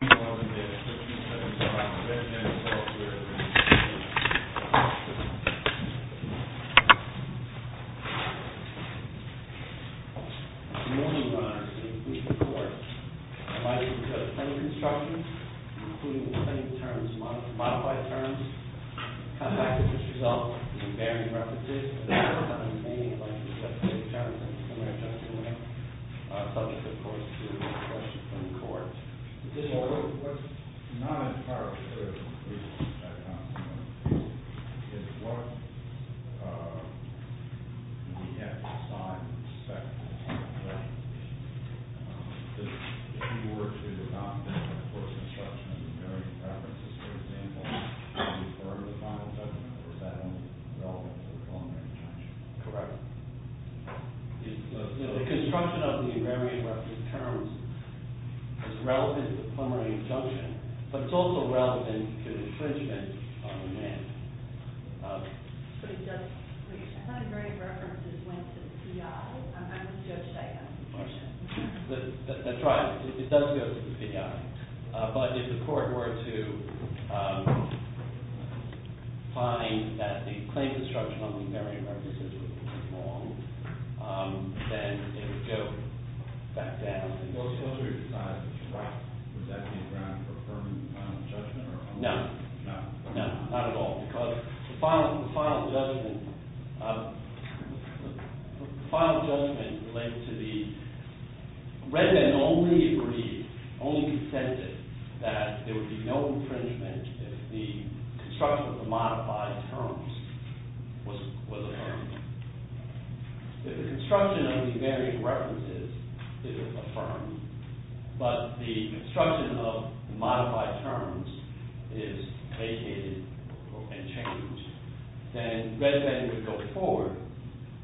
Good morning, ladies and gentlemen. I'm Ben Bendit, software engineer for Google. Good morning, your honors. In this brief report, I'd like to discuss plenty of instructions, including plenty of terms, modified terms. I'll come back to this result with some bearing references. I'd like to discuss plenty of terms, including plenty of terms, subject, of course, to questions from the court. What's not entirely clear is what we have to assign respect to. If you work through the document, of course, instructions and bearing references, for example, before the final judgment, is that only relevant to the preliminary injunction? Correct. The construction of the bearing reference terms is relevant to the preliminary injunction, but it's also relevant to the infringement on the mandate. But if the court were to find that the claims instruction on the bearing references was wrong, then it would go back down. And those would be decided? Right. Would that be a ground for a permanent final judgment? No. No. No, not at all. Because the final judgment related to the – Redmond only agreed, only consented, that there would be no infringement if the construction of the modified terms was affirmed. If the construction of the bearing references is affirmed, but the construction of the modified terms is vacated and changed, then Redmond would go forward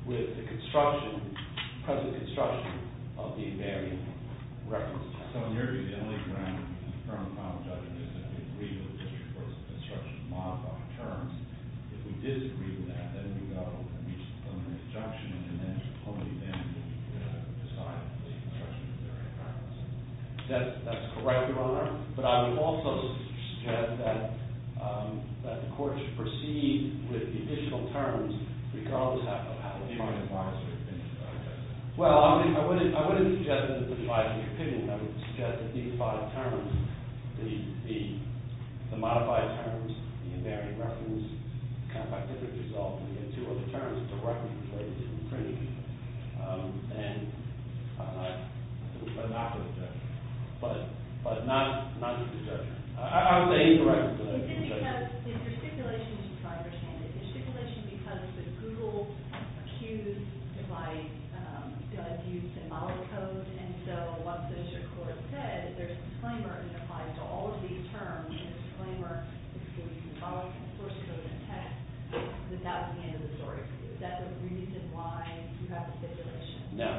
with the construction, present construction, of the bearing references. So in your view, the only ground for a permanent final judgment is that we agree with the district court's instruction to modify the terms. If we disagree with that, then we go and reach the preliminary injunction, and then it's only then that we decide to leave the construction of the bearing references. That's correct, Your Honor. But I would also suggest that the court should proceed with the additional terms because – You might advise your opinion about that. Well, I wouldn't suggest that I would advise my opinion. I would suggest that these five terms, the modified terms, the bearing reference, the kind of activity resolved, and the two other terms directly related to the infringement, are not going to be judged. But not going to be judged. Your stipulation, as you understand it, is a stipulation because the Google Accused device does use the model code, and so what the district court said is there's a disclaimer that applies to all of these terms. There's a disclaimer that says you can follow the source code and text without the end of the story. Is that the reason why you have the stipulation? No.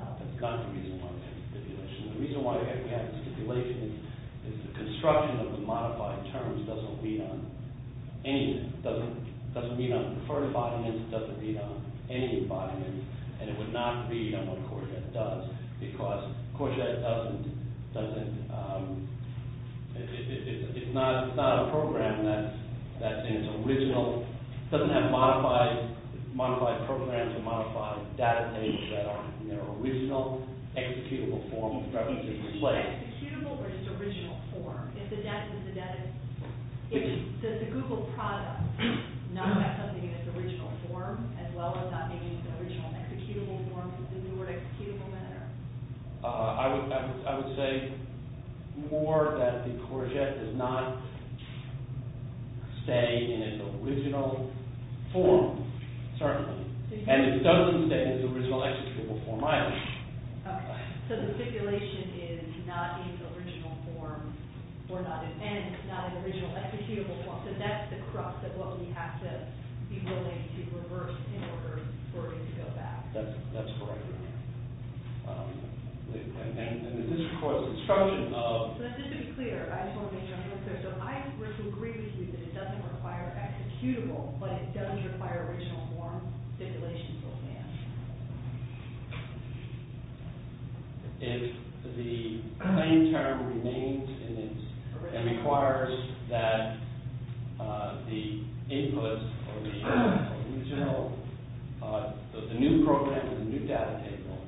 That's not the reason why we have the stipulation. The reason why we have the stipulation is the construction of the modified terms doesn't read on any of them. It doesn't read on the preferred bodyments. It doesn't read on any of the bodyments. And it would not read on what Courgette does because Courgette doesn't – it's not a program that's in its original – Is it executable or just original form? Does the Google product not have something in its original form, as well as not being in its original executable form? I would say more that the Courgette does not stay in its original form, certainly. And it doesn't stay in its original executable form either. So the stipulation is not in its original form or not in – and it's not in its original executable form. So that's the crux of what we have to be willing to reverse in order for it to go back. That's correct. And this, of course, is a construction of – So just to be clear, I just want to make sure I'm clear. So I would agree with you that it doesn't require executable, but it does require original form stipulation still stands. If the claim term remains in its original – It requires that the input or the original – the new program or the new data table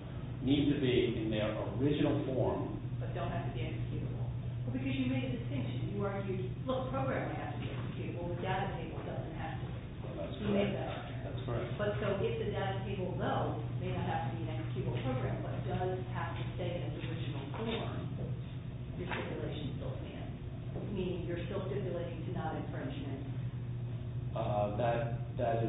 needs to be in their original form. But don't have to be executable. Well, because you made a distinction. Your program has to be executable. The data table doesn't have to be. You made that up. That's correct. But so if the data table, though, may not have to be an executable program but does have to stay in its original form, your stipulation still stands, meaning you're still stipulating to not infringe on it. That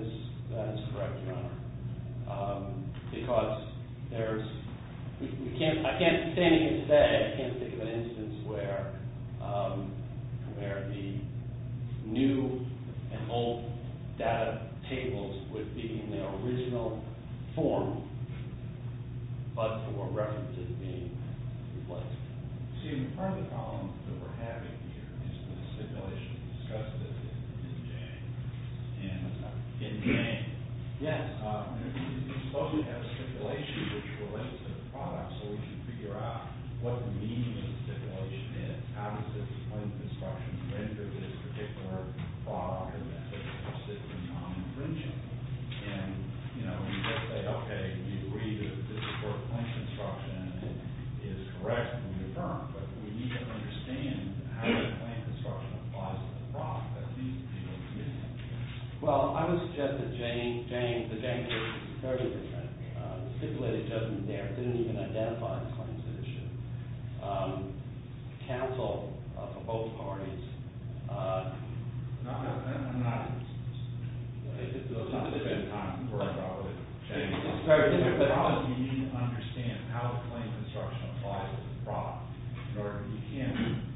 is correct, Your Honor. Because there's – I can't say anything today. I can't think of an instance where the new and old data tables would be in their original form but were referenced as being in place. Excuse me. Part of the problem that we're having here is the stipulation discussed in Jane. And in Jane, yes, you supposedly have a stipulation which relates to the product. So we should figure out what the meaning of the stipulation is. How does this claim construction render this particular product or method consistent on infringing? And, you know, we just say, okay, we agree that this is for a claim construction, and it is correct, and we affirm. But we need to understand how that claim construction applies to the product that these people are committing. Well, I would suggest that Jane – the Jane case is very different. The stipulation doesn't even identify the claims that it should. Counsel for both parties – No, I'm not – It's not the same time where I probably – I'm sorry. You need to understand how a claim construction applies to the product in order to begin.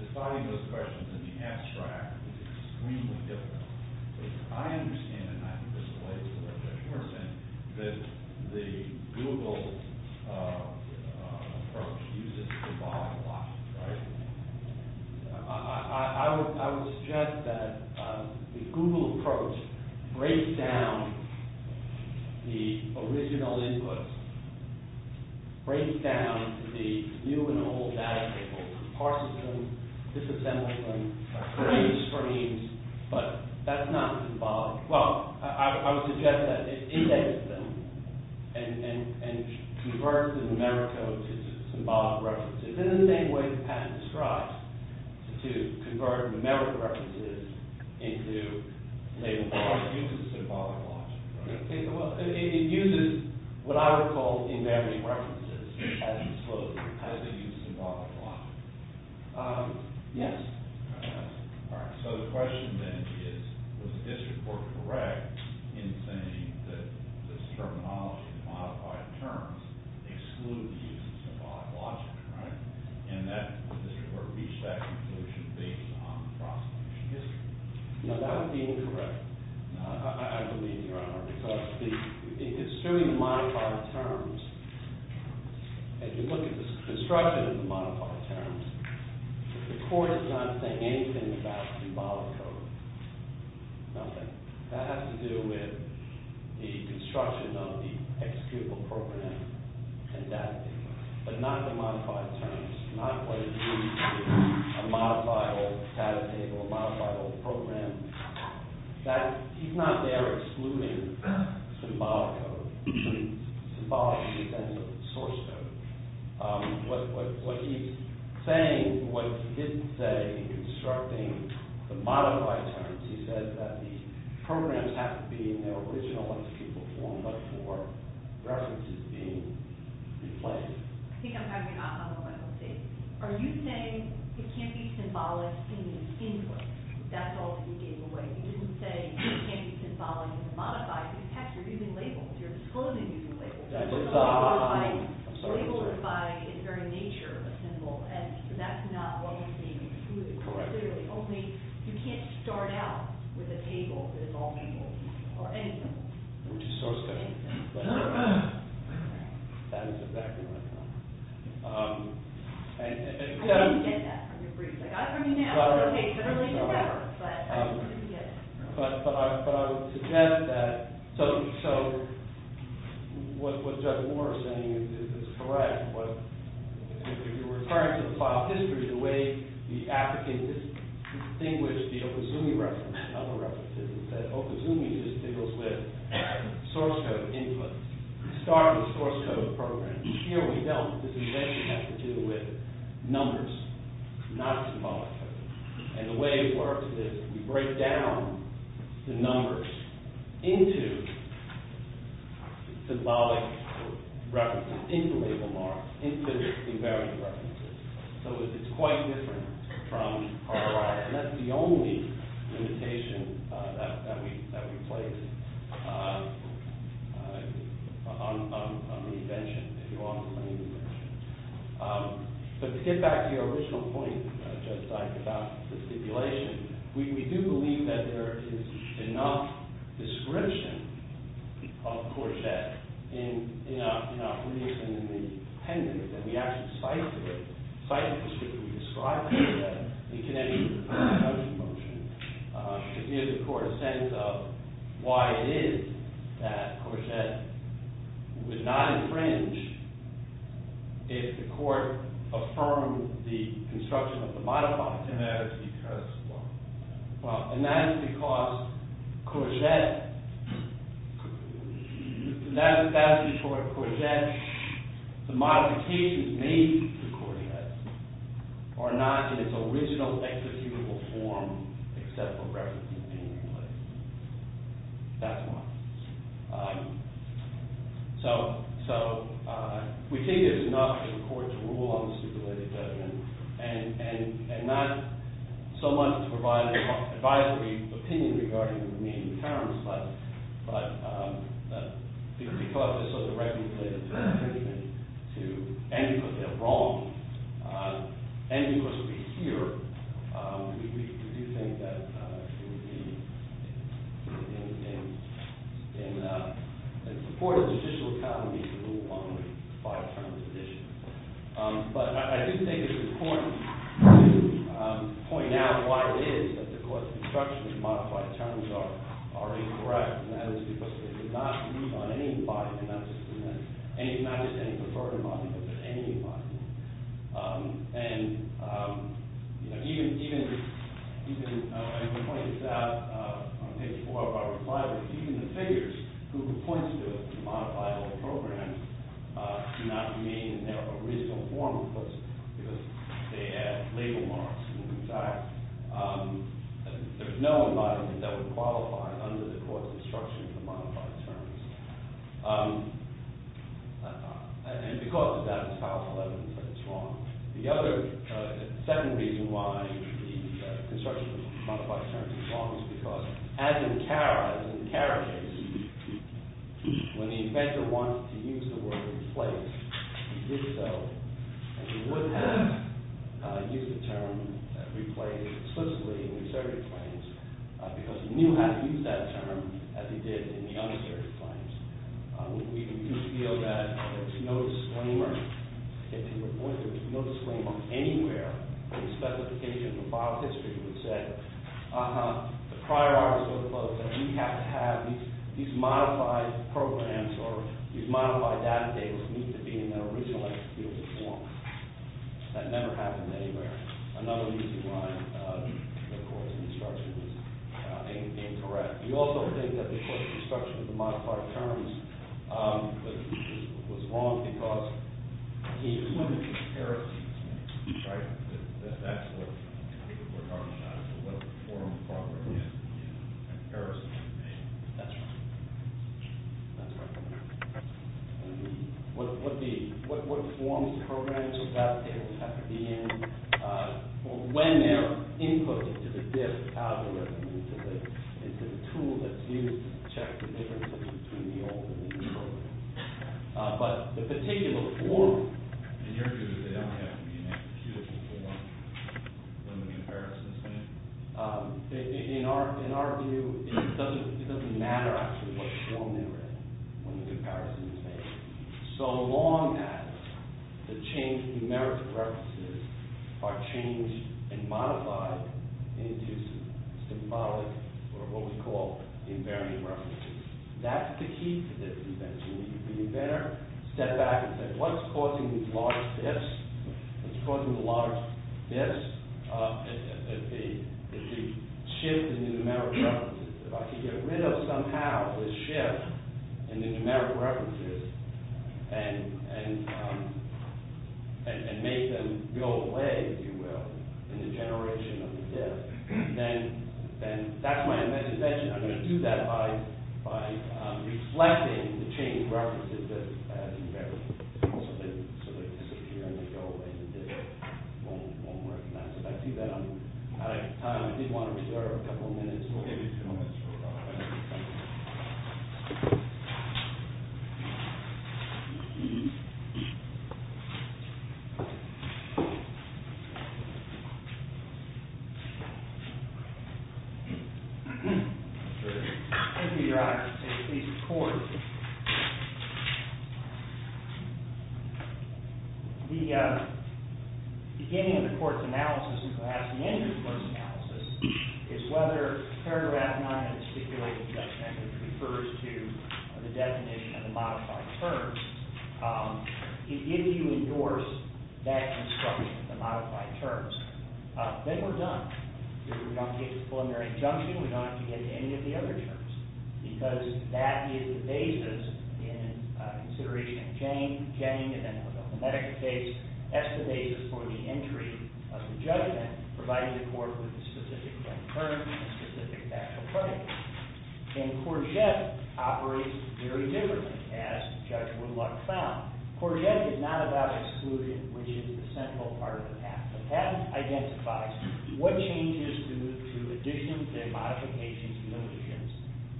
Defining those questions in the abstract is extremely difficult. I understand, and I think this relates to what Judge Humerson said, that the Google approach uses the body a lot, right? I would suggest that the Google approach breaks down the original inputs, breaks down the new and old data tables, parses them, disassembles them, creates frames, but that's not symbolic. Well, I would suggest that it indexes them and converts the numerical to symbolic references. It's in the same way that Patton strives to convert numerical references into – It uses symbolic logic, right? It uses what I would call emanating references as they use symbolic logic. Yes? All right, so the question then is, was the district court correct in saying that this terminology, the modified terms, exclude the use of symbolic logic, right? And that the district court reached that conclusion based on the prosecution history. Now, that would be incorrect, I believe, Your Honor, because assuming the modified terms, if you look at the construction of the modified terms, the court is not saying anything about symbolic code. Nothing. That has to do with the construction of the executable program and that. But not the modified terms, not what it means to be a modifiable data table, a modifiable program. He's not there excluding symbolic code, symbolic in the sense of source code. What he's saying, what he did say in constructing the modified terms, he said that the programs have to be in their original entity form before references are being replaced. Are you saying it can't be symbolic in the input? That's all that you gave away. You didn't say it can't be symbolic in the modified. In fact, you're using labels. You're disclosing using labels. Labels are by their very nature a symbol and that's not what you're saying, excluding. You can't start out with a table that is all labels or any symbols. Which is source code. I didn't get that from your brief. I got it from you now. But I would suggest that, so what Judge Moore is saying is correct. If you're referring to the file history, the way the applicant distinguished the Okazumi reference and other references is that Okazumi just deals with source code inputs. You start with a source code program. Here we don't. This invasion has to do with numbers, not symbolic code. And the way it works is you break down the numbers into symbolic references, into label marks, into invariant references. So it's quite different from RLR. And that's the only limitation that we place on the invention, if you will, on the invention. But to get back to your original point, Judge Sykes, about the stipulation, we do believe that there is enough description of Courgette in our briefs and in the appendix that we actually cite the description we described of Courgette in connection with the presumption motion to give the court a sense of why it is that Courgette would not infringe if the court affirmed the construction of the modified similarity curse law. And that is because Courgette, that is because Courgette, the modifications made to Courgette are not in its original executable form except for reference to opinion related. That's why. So we think there's enough in court to rule on stipulated judgment and not so much to provide an advisory opinion regarding the remaining powers, but because this was a recommended judgment to end because they're wrong, end because we hear, we do think that it would be in support of the judicial economy to rule on the five terms addition. But I do think it's important to point out why it is that the court's instructions to modify terms are incorrect. And that is because they did not rule on any body, not just any preferred body, but any body. And even, I'm going to point this out, I'm going to take this before I reply, but even the figures who points to a modifiable program do not mean in their original form because they add label marks. In fact, there's no embodiment that would qualify under the court's instructions to modify terms. And because of that, it's powerful evidence that it's wrong. The other, the second reason why the construction of modified terms is wrong is because as in Cara, as in Cara's case, when the inventor wants to use the word replace, he did so. And he wouldn't have used the term replace explicitly in the asserted claims because he knew how to use that term as he did in the unasserted claims. We do feel that there's no disclaimer. If he reported no disclaimer anywhere in the specification of the file history, he would have said, uh-huh, the prior art was so close that we have to have these modified programs or these modified data tables need to be in their original executed form. That never happened anywhere. Another reason why the court's instruction was incorrect. We also think that the court's instruction of the modified terms was wrong because he was looking at Cara's case, right? That's what we're talking about, what form the program is in Cara's case. That's right. That's right. What form these programs or data tables have to be in or when they're input into the DIP algorithm, into the tool that's used to check the differences between the old and the new program. But the particular form. In your view, they don't have to be in an executable form? In the comparison statement? In our view, it doesn't matter actually what form they're in when the comparison is made. So long as the change in the merits of references are changed and modified into symbolic or what we call invariant references. That's the key to this invention. The inventor stepped back and said, what's causing these large dips? What's causing the large dips? If you shift the numeric references, if I can get rid of somehow the shift in the numeric references and make them go away, if you will, in the generation of the DIP, then that's my invention. I'm going to do that by reflecting the changed references as invariant. So they disappear and they go away. If I do that, I'm out of time. I did want to reserve a couple of minutes. We'll give you two minutes. Hold on. Thank you, Your Honor. If you could please record. The beginning of the court's analysis and perhaps the end of the court's analysis is whether paragraph 9 of the stipulated judgment refers to the definition of the modified terms. If you endorse that instruction, the modified terms, then we're done. We don't get the preliminary injunction. We don't have to get any of the other terms because that is the basis in consideration of Jane. Jane, in the medical case, estimates for the entry of the judgment providing the court with the specific term and specific actual claim. And Courgette operates very differently, as Judge Woodluck found. Courgette is not about exclusion, which is the central part of the patent. The patent identifies what changes due to addition, demodification, and limitations.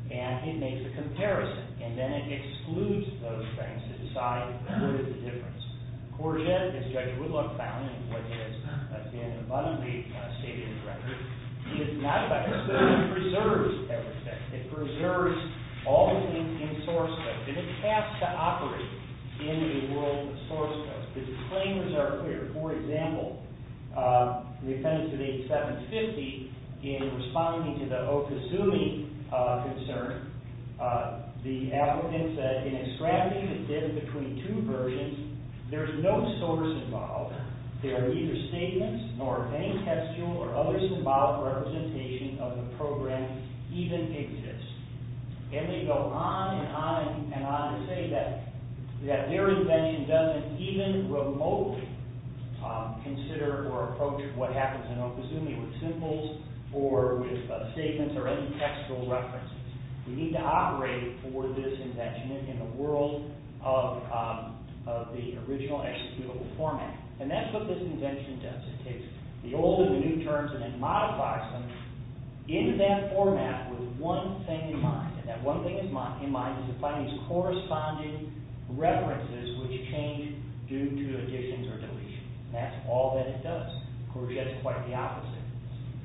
And it makes a comparison. And then it excludes those things to decide what is the difference. Courgette, as Judge Woodluck found, in what is, again, abundantly stated in the record, is not about exclusion. It preserves everything. It preserves all things in source code. And it has to operate in the world of source code. Its claims are clear. For example, the defendants of 8750, in responding to the Okazumi concern, the applicant said, in a strategy that's in between two versions, there's no source involved. There are neither statements nor any textual or other symbolic representation of the program even exists. And they go on and on and on to say that their invention doesn't even remotely consider or approach what happens in Okazumi with symbols or with statements or any textual references. We need to operate for this invention in the world of the original and executable format. And that's what this invention does. It takes the old and the new terms and then modifies them in that format with one thing in mind. And that one thing in mind is to find these corresponding references which change due to additions or deletions. And that's all that it does. Courgette's quite the opposite.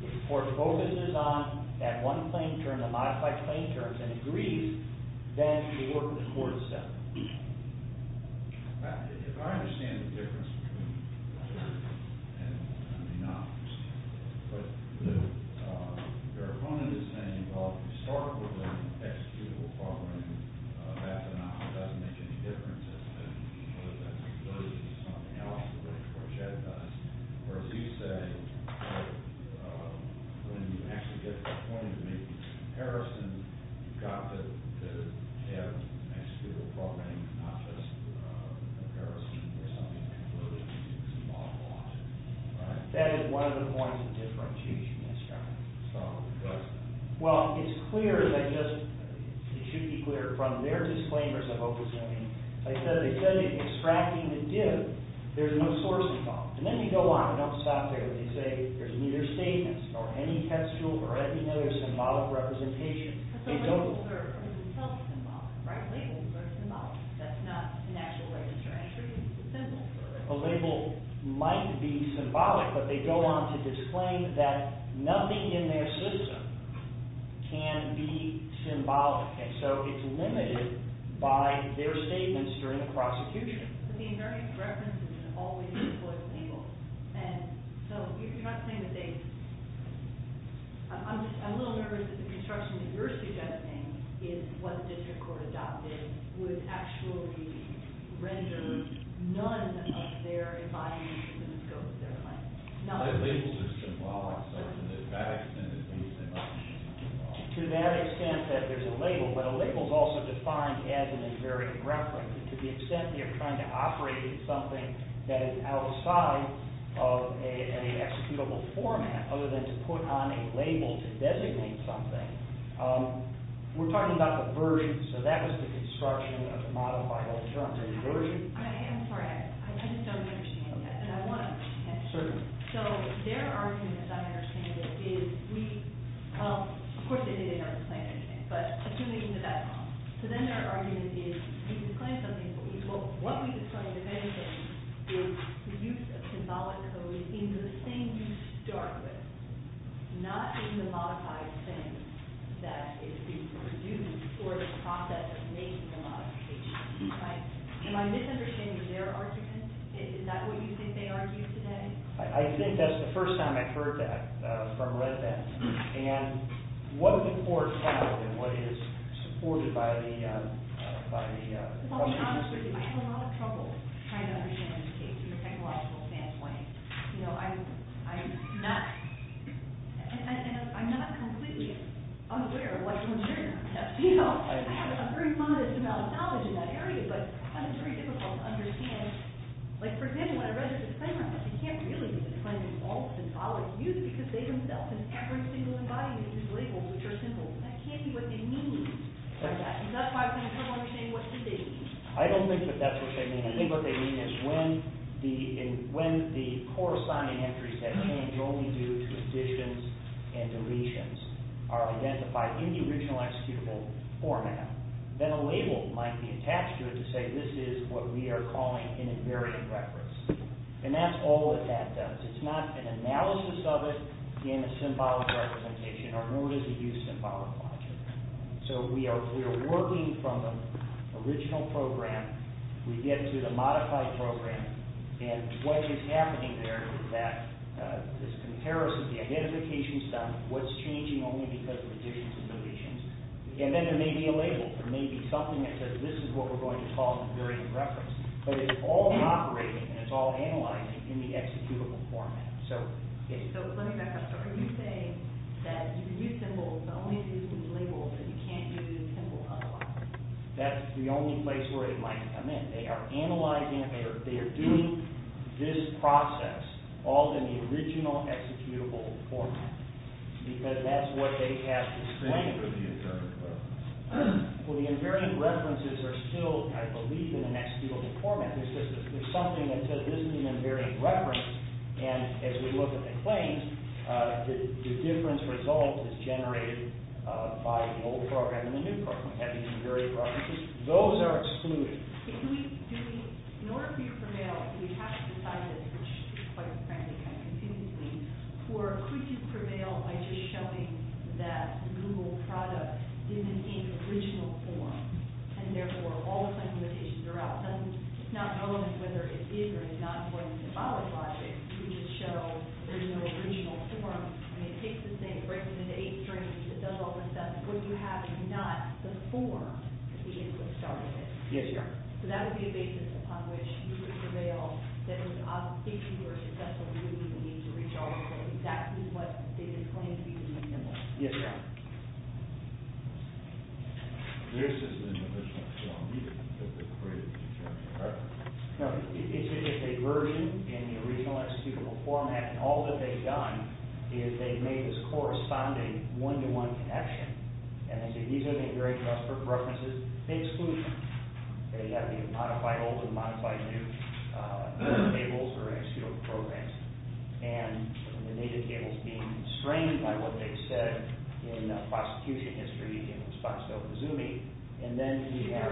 If the court focuses on that one claim term, the modified claim terms, and agrees, then the court is settled. If I understand the difference between and you may not understand it, but if your opponent is saying, well, if you start with an executable program, that phenomenon doesn't make any difference, as opposed to something else, which Courgette does. Or as you say, when you actually get to the point where you're making comparisons, you've got to have an executable program and not just a comparison or something that clearly is involved. Right? That is one of the points of differentiation that's got to be discussed. Well, it's clear that just, it should be clear from their disclaimers of Okazumi, they said in extracting the div, there's no source involved. And then you go on. I don't stop there. They say there's neither statements or any textual or any other symbolic representation. They don't... But the labels are themselves symbolic, right? Labels are symbolic. That's not an actual register entry. It's a symbol. A label might be symbolic, but they go on to disclaim that nothing in their system can be symbolic. And so it's limited by their statements during the prosecution. But the inherent references are always employed with labels. And so you're not saying that they... I'm a little nervous that the construction that you're suggesting is what the district court adopted would actually render none of their inviolations in the scope of their claim. No. But labels are symbolic, so to that extent, at least they might be symbolic. To that extent that there's a label, but a label's also defined as an invariant reference. To the extent that you're trying to operate as something that is outside of an executable format, other than to put on a label to designate something, we're talking about the version. So that was the construction of the model by Holder. I'm sorry. I just don't understand that. And I want to understand it. Certainly. So their argument, as I understand it, is we... Of course, they didn't ever claim anything, but assuming that that's wrong. So then their argument is we can claim something, but what we can claim, if anything, is the use of symbolic code in the thing you start with, not in the modified thing that is being produced for the process of making the modification. Right? Am I misunderstanding their argument? Is that what you think they argued today? I think that's the first time I've heard that, or read that. And what the court found and what is supported by the... To be honest with you, I have a lot of trouble trying to understand the case from a technological standpoint. You know, I'm not... And I'm not completely unaware of what's in there. You know? I have a very modest amount of knowledge in that area, but it's very difficult to understand. Like, for example, when I read the disclaimer, I was like, you can't really be claiming all the symbolic use because they themselves in every single embodiment is labeled with their symbols. And that can't be what they mean by that. And that's why I was going to put on the table what they did mean. I don't think that that's what they mean. I think what they mean is when the core signing entries that change only due to additions and deletions are identified in the original executable format, then a label might be attached to it to say, this is what we are calling an invariant reference. And that's all that that does. It's not an analysis of it in a symbolic representation, nor does it use symbolic logic. So we are working from the original program. We get to the modified program. And what is happening there is that this comparison, the identification is done. What's changing only because of additions and deletions? And then there may be a label. There may be something that says this is what we are going to call an invariant reference. But it's all operating and it's all analyzing in the executable format. So, yes. So let me back up. So are you saying that you can use symbols but only if you use labels and you can't use symbols That's the only place where it might come in. They are analyzing it. They are doing this process all in the original executable format. Because that's what they have to claim. Well, the invariant references are still, I believe, in an executable format. There's something that says this is an invariant reference. And as we look at the claims, the difference resolved is generated by the old program and the new program having invariant references. Those are excluded. In order for you to prevail, do you have to decide this, which is quite frantic and confusing, or could you prevail by just showing that the Google product is in the original form and therefore all the supplementations are out. So it's not relevant whether it is or is not according to symbolic logic. You can just show there's no original form. I mean, it takes the same, it breaks it into eight strings, it does all this stuff. What you have is not the form that the input started with. Yes, ma'am. So that would be a basis upon which you would prevail that there was an obfuscation or a successful review that needs to resolve so that is what they would claim to be the reason why. Yes, ma'am. This isn't an original form either. No, it's a version in the original executable format and all that they've done is they've made this corresponding one-to-one connection. And they say these have been very prosperous references. They exclude them. They've got to be modified old and modified new tables or executable programs. And the native tables by what they've said in prosecution history in response to Okazumi. And then we have...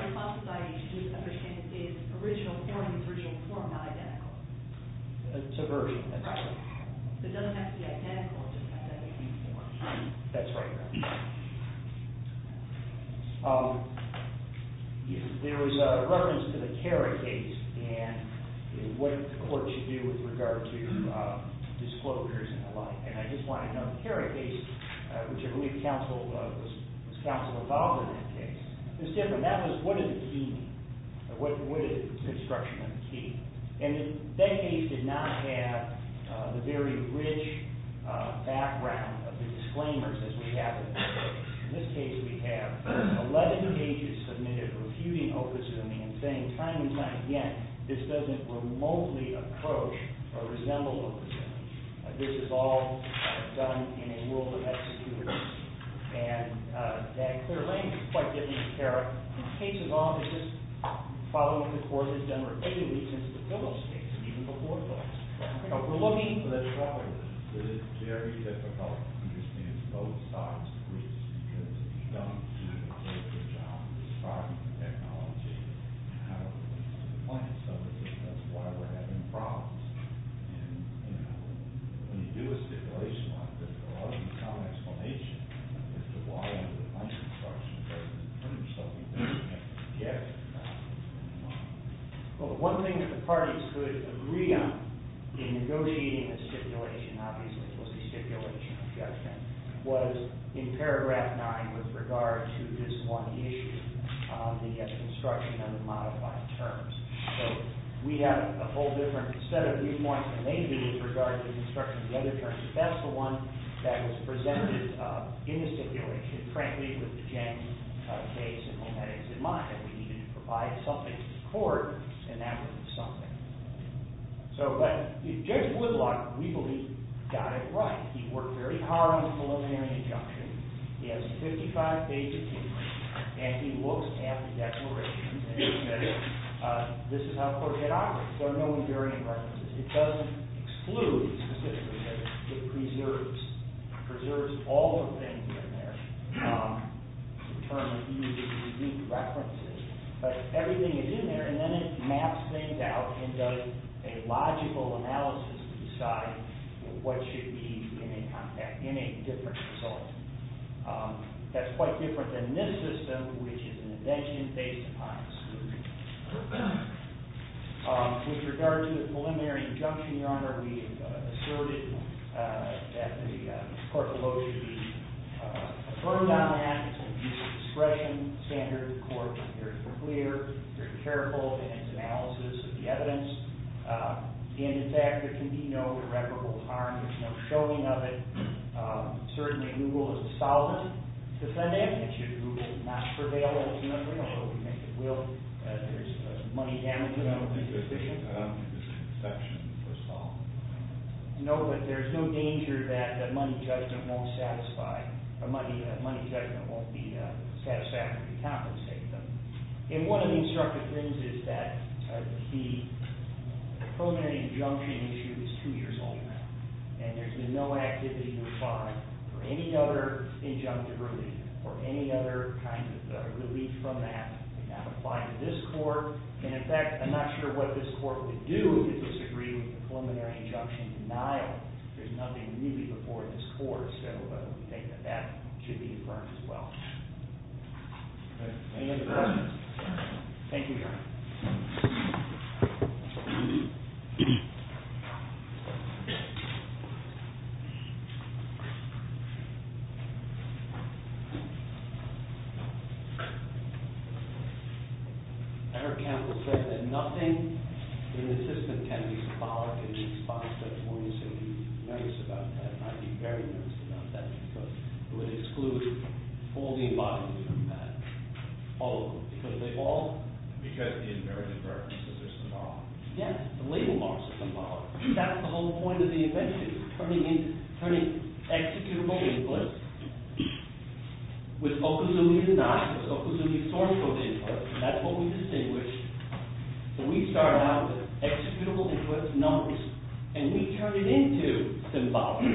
It's a version. That's right. Yes, ma'am. There was a reference to the Kerry case and what the court should do with regard to disclosures and the like. And I just want to note the Kerry case, which I believe was counsel involved in that case, was different. That was what did the key mean? What is the construction of the key? And that case did not have the very rich background of the disclaimers as we have in this case. In this case, we have 11 pages submitted refuting Okazumi and saying time and time again this doesn't remotely approach or resemble Okazumi. This is all done in a world of executability. And that clear language is quite different to Kerry. The case is all just following the course it's done repeatedly since the Fiddlesticks and even before Fiddlesticks. We're looking... But it's very difficult to understand both sides of the reason because if you don't do a good job describing the technology and how it relates to the plaintiffs that's why we're having problems. And, you know, when you do a stipulation like this, there's a lot of common explanation as to why under the plaintiff's structure the plaintiffs don't even have to object. Well, one thing that the parties would agree on in negotiating the stipulation, obviously it was the stipulation objection, was in paragraph 9 with regard to this one issue, the construction of the modified terms. So, we have a whole different set of viewpoints than they do with regard to the construction of the other terms. But that's the one that was presented in the stipulation frankly with the James case and all that is in mind. That we needed to provide something to the court and that was something. So, but, James Whitlock, we believe, got it right. He worked very hard on the preliminary injunction. He has 55 pages in there and he looks at the declarations and he says, this is how the court did operate. There are no invariant references. It doesn't exclude specifically, it preserves. It preserves all the things in there. The term used is unique references, but everything is in there and then it maps things out and does a logical analysis to decide what should be included in a contract in a different result. That's quite different than this system which is an invention based upon exclusion. With regard to the preliminary injunction, Your Honor, we asserted that the court will only be firm on that and use discretion standards. The court is very clear, very careful in its analysis of the evidence and in fact, there can be no irreparable harm. There's no showing of it. Certainly, we will as a solvent defend it. We will not prevail over it, although we think it will if there's money damage to the decision. No, but there's no danger that money judgment won't satisfy, money judgment won't be satisfactory to compensate them. One of the instructive things is that the preliminary injunction issue is two years old now, and there's been no activity required for any other injunctive relief or any other kind of relief from that to now apply to this court and in fact, I'm not sure what this court would do to disagree with the preliminary injunction denial. There's nothing really before this court, so I think that that should be affirmed as well. Any other questions? Thank you, Your Honor. I heard counsel say that nothing in the system can be excluded from that. I would be very nervous about that because it would exclude all the embodiments from that. All of them. Because they all Because the invariant references are symbolic. Yes, the label marks are symbolic. That's the whole point of the invention, turning executable inputs with okazumi and not with okazumi source code inputs. That's what we distinguished. We started out with executable inputs, numbers, and we turned it into symbolic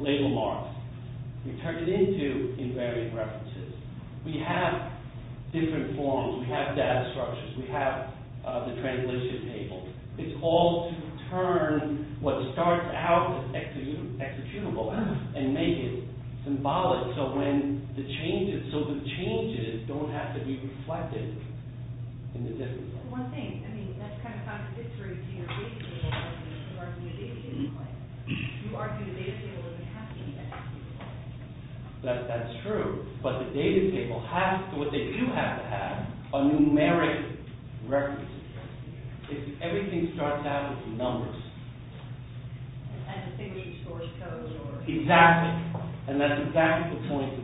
label marks. We turned it into invariant references. We have different forms. We have data structures. We have the translation data tables. It's all to turn what starts out as executable and make it symbolic so the changes don't have to be reflected in the data. That's the one thing. That's kind of contradictory to your data table argument. You argue the data table doesn't have to be a reference. Everything starts out with numbers. Exactly. And that's exactly the point of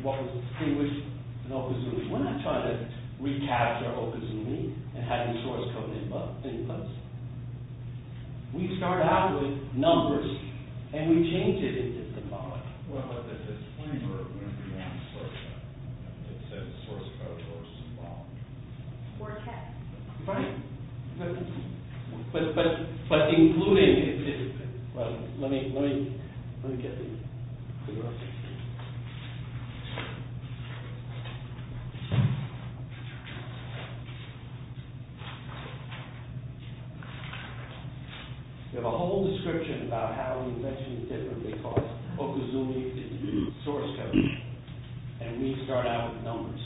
what was distinguished in okazumi. We're not trying to recapture okazumi and having source code inputs. We start out with numbers and we change it into symbolic. It's a source code as well. Or text. Right. But including it, get the rest. We have a whole description about how we mention it differently because okazumi is not a source code. Okazumi is a source code. And we start out with numbers.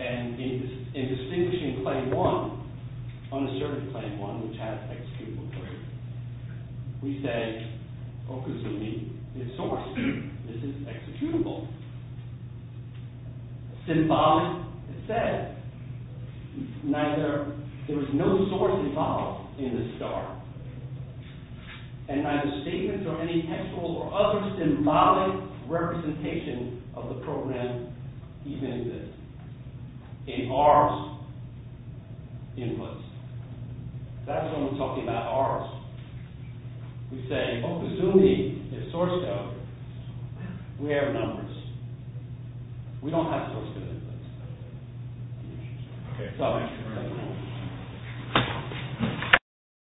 And in distinguishing claim one, unassertive claim one, which has executable code, we say okazumi is a source. This is executable. Symbolic said, there was no source code in this star. And either statements or any textual or other symbolic representation of the program even exists. In ours, inputs. That's when we're talking about ours. We say okazumi is source code. We have numbers. We don't know so we Questions? Any other finishes? Question? Any other questions? No. Thank you.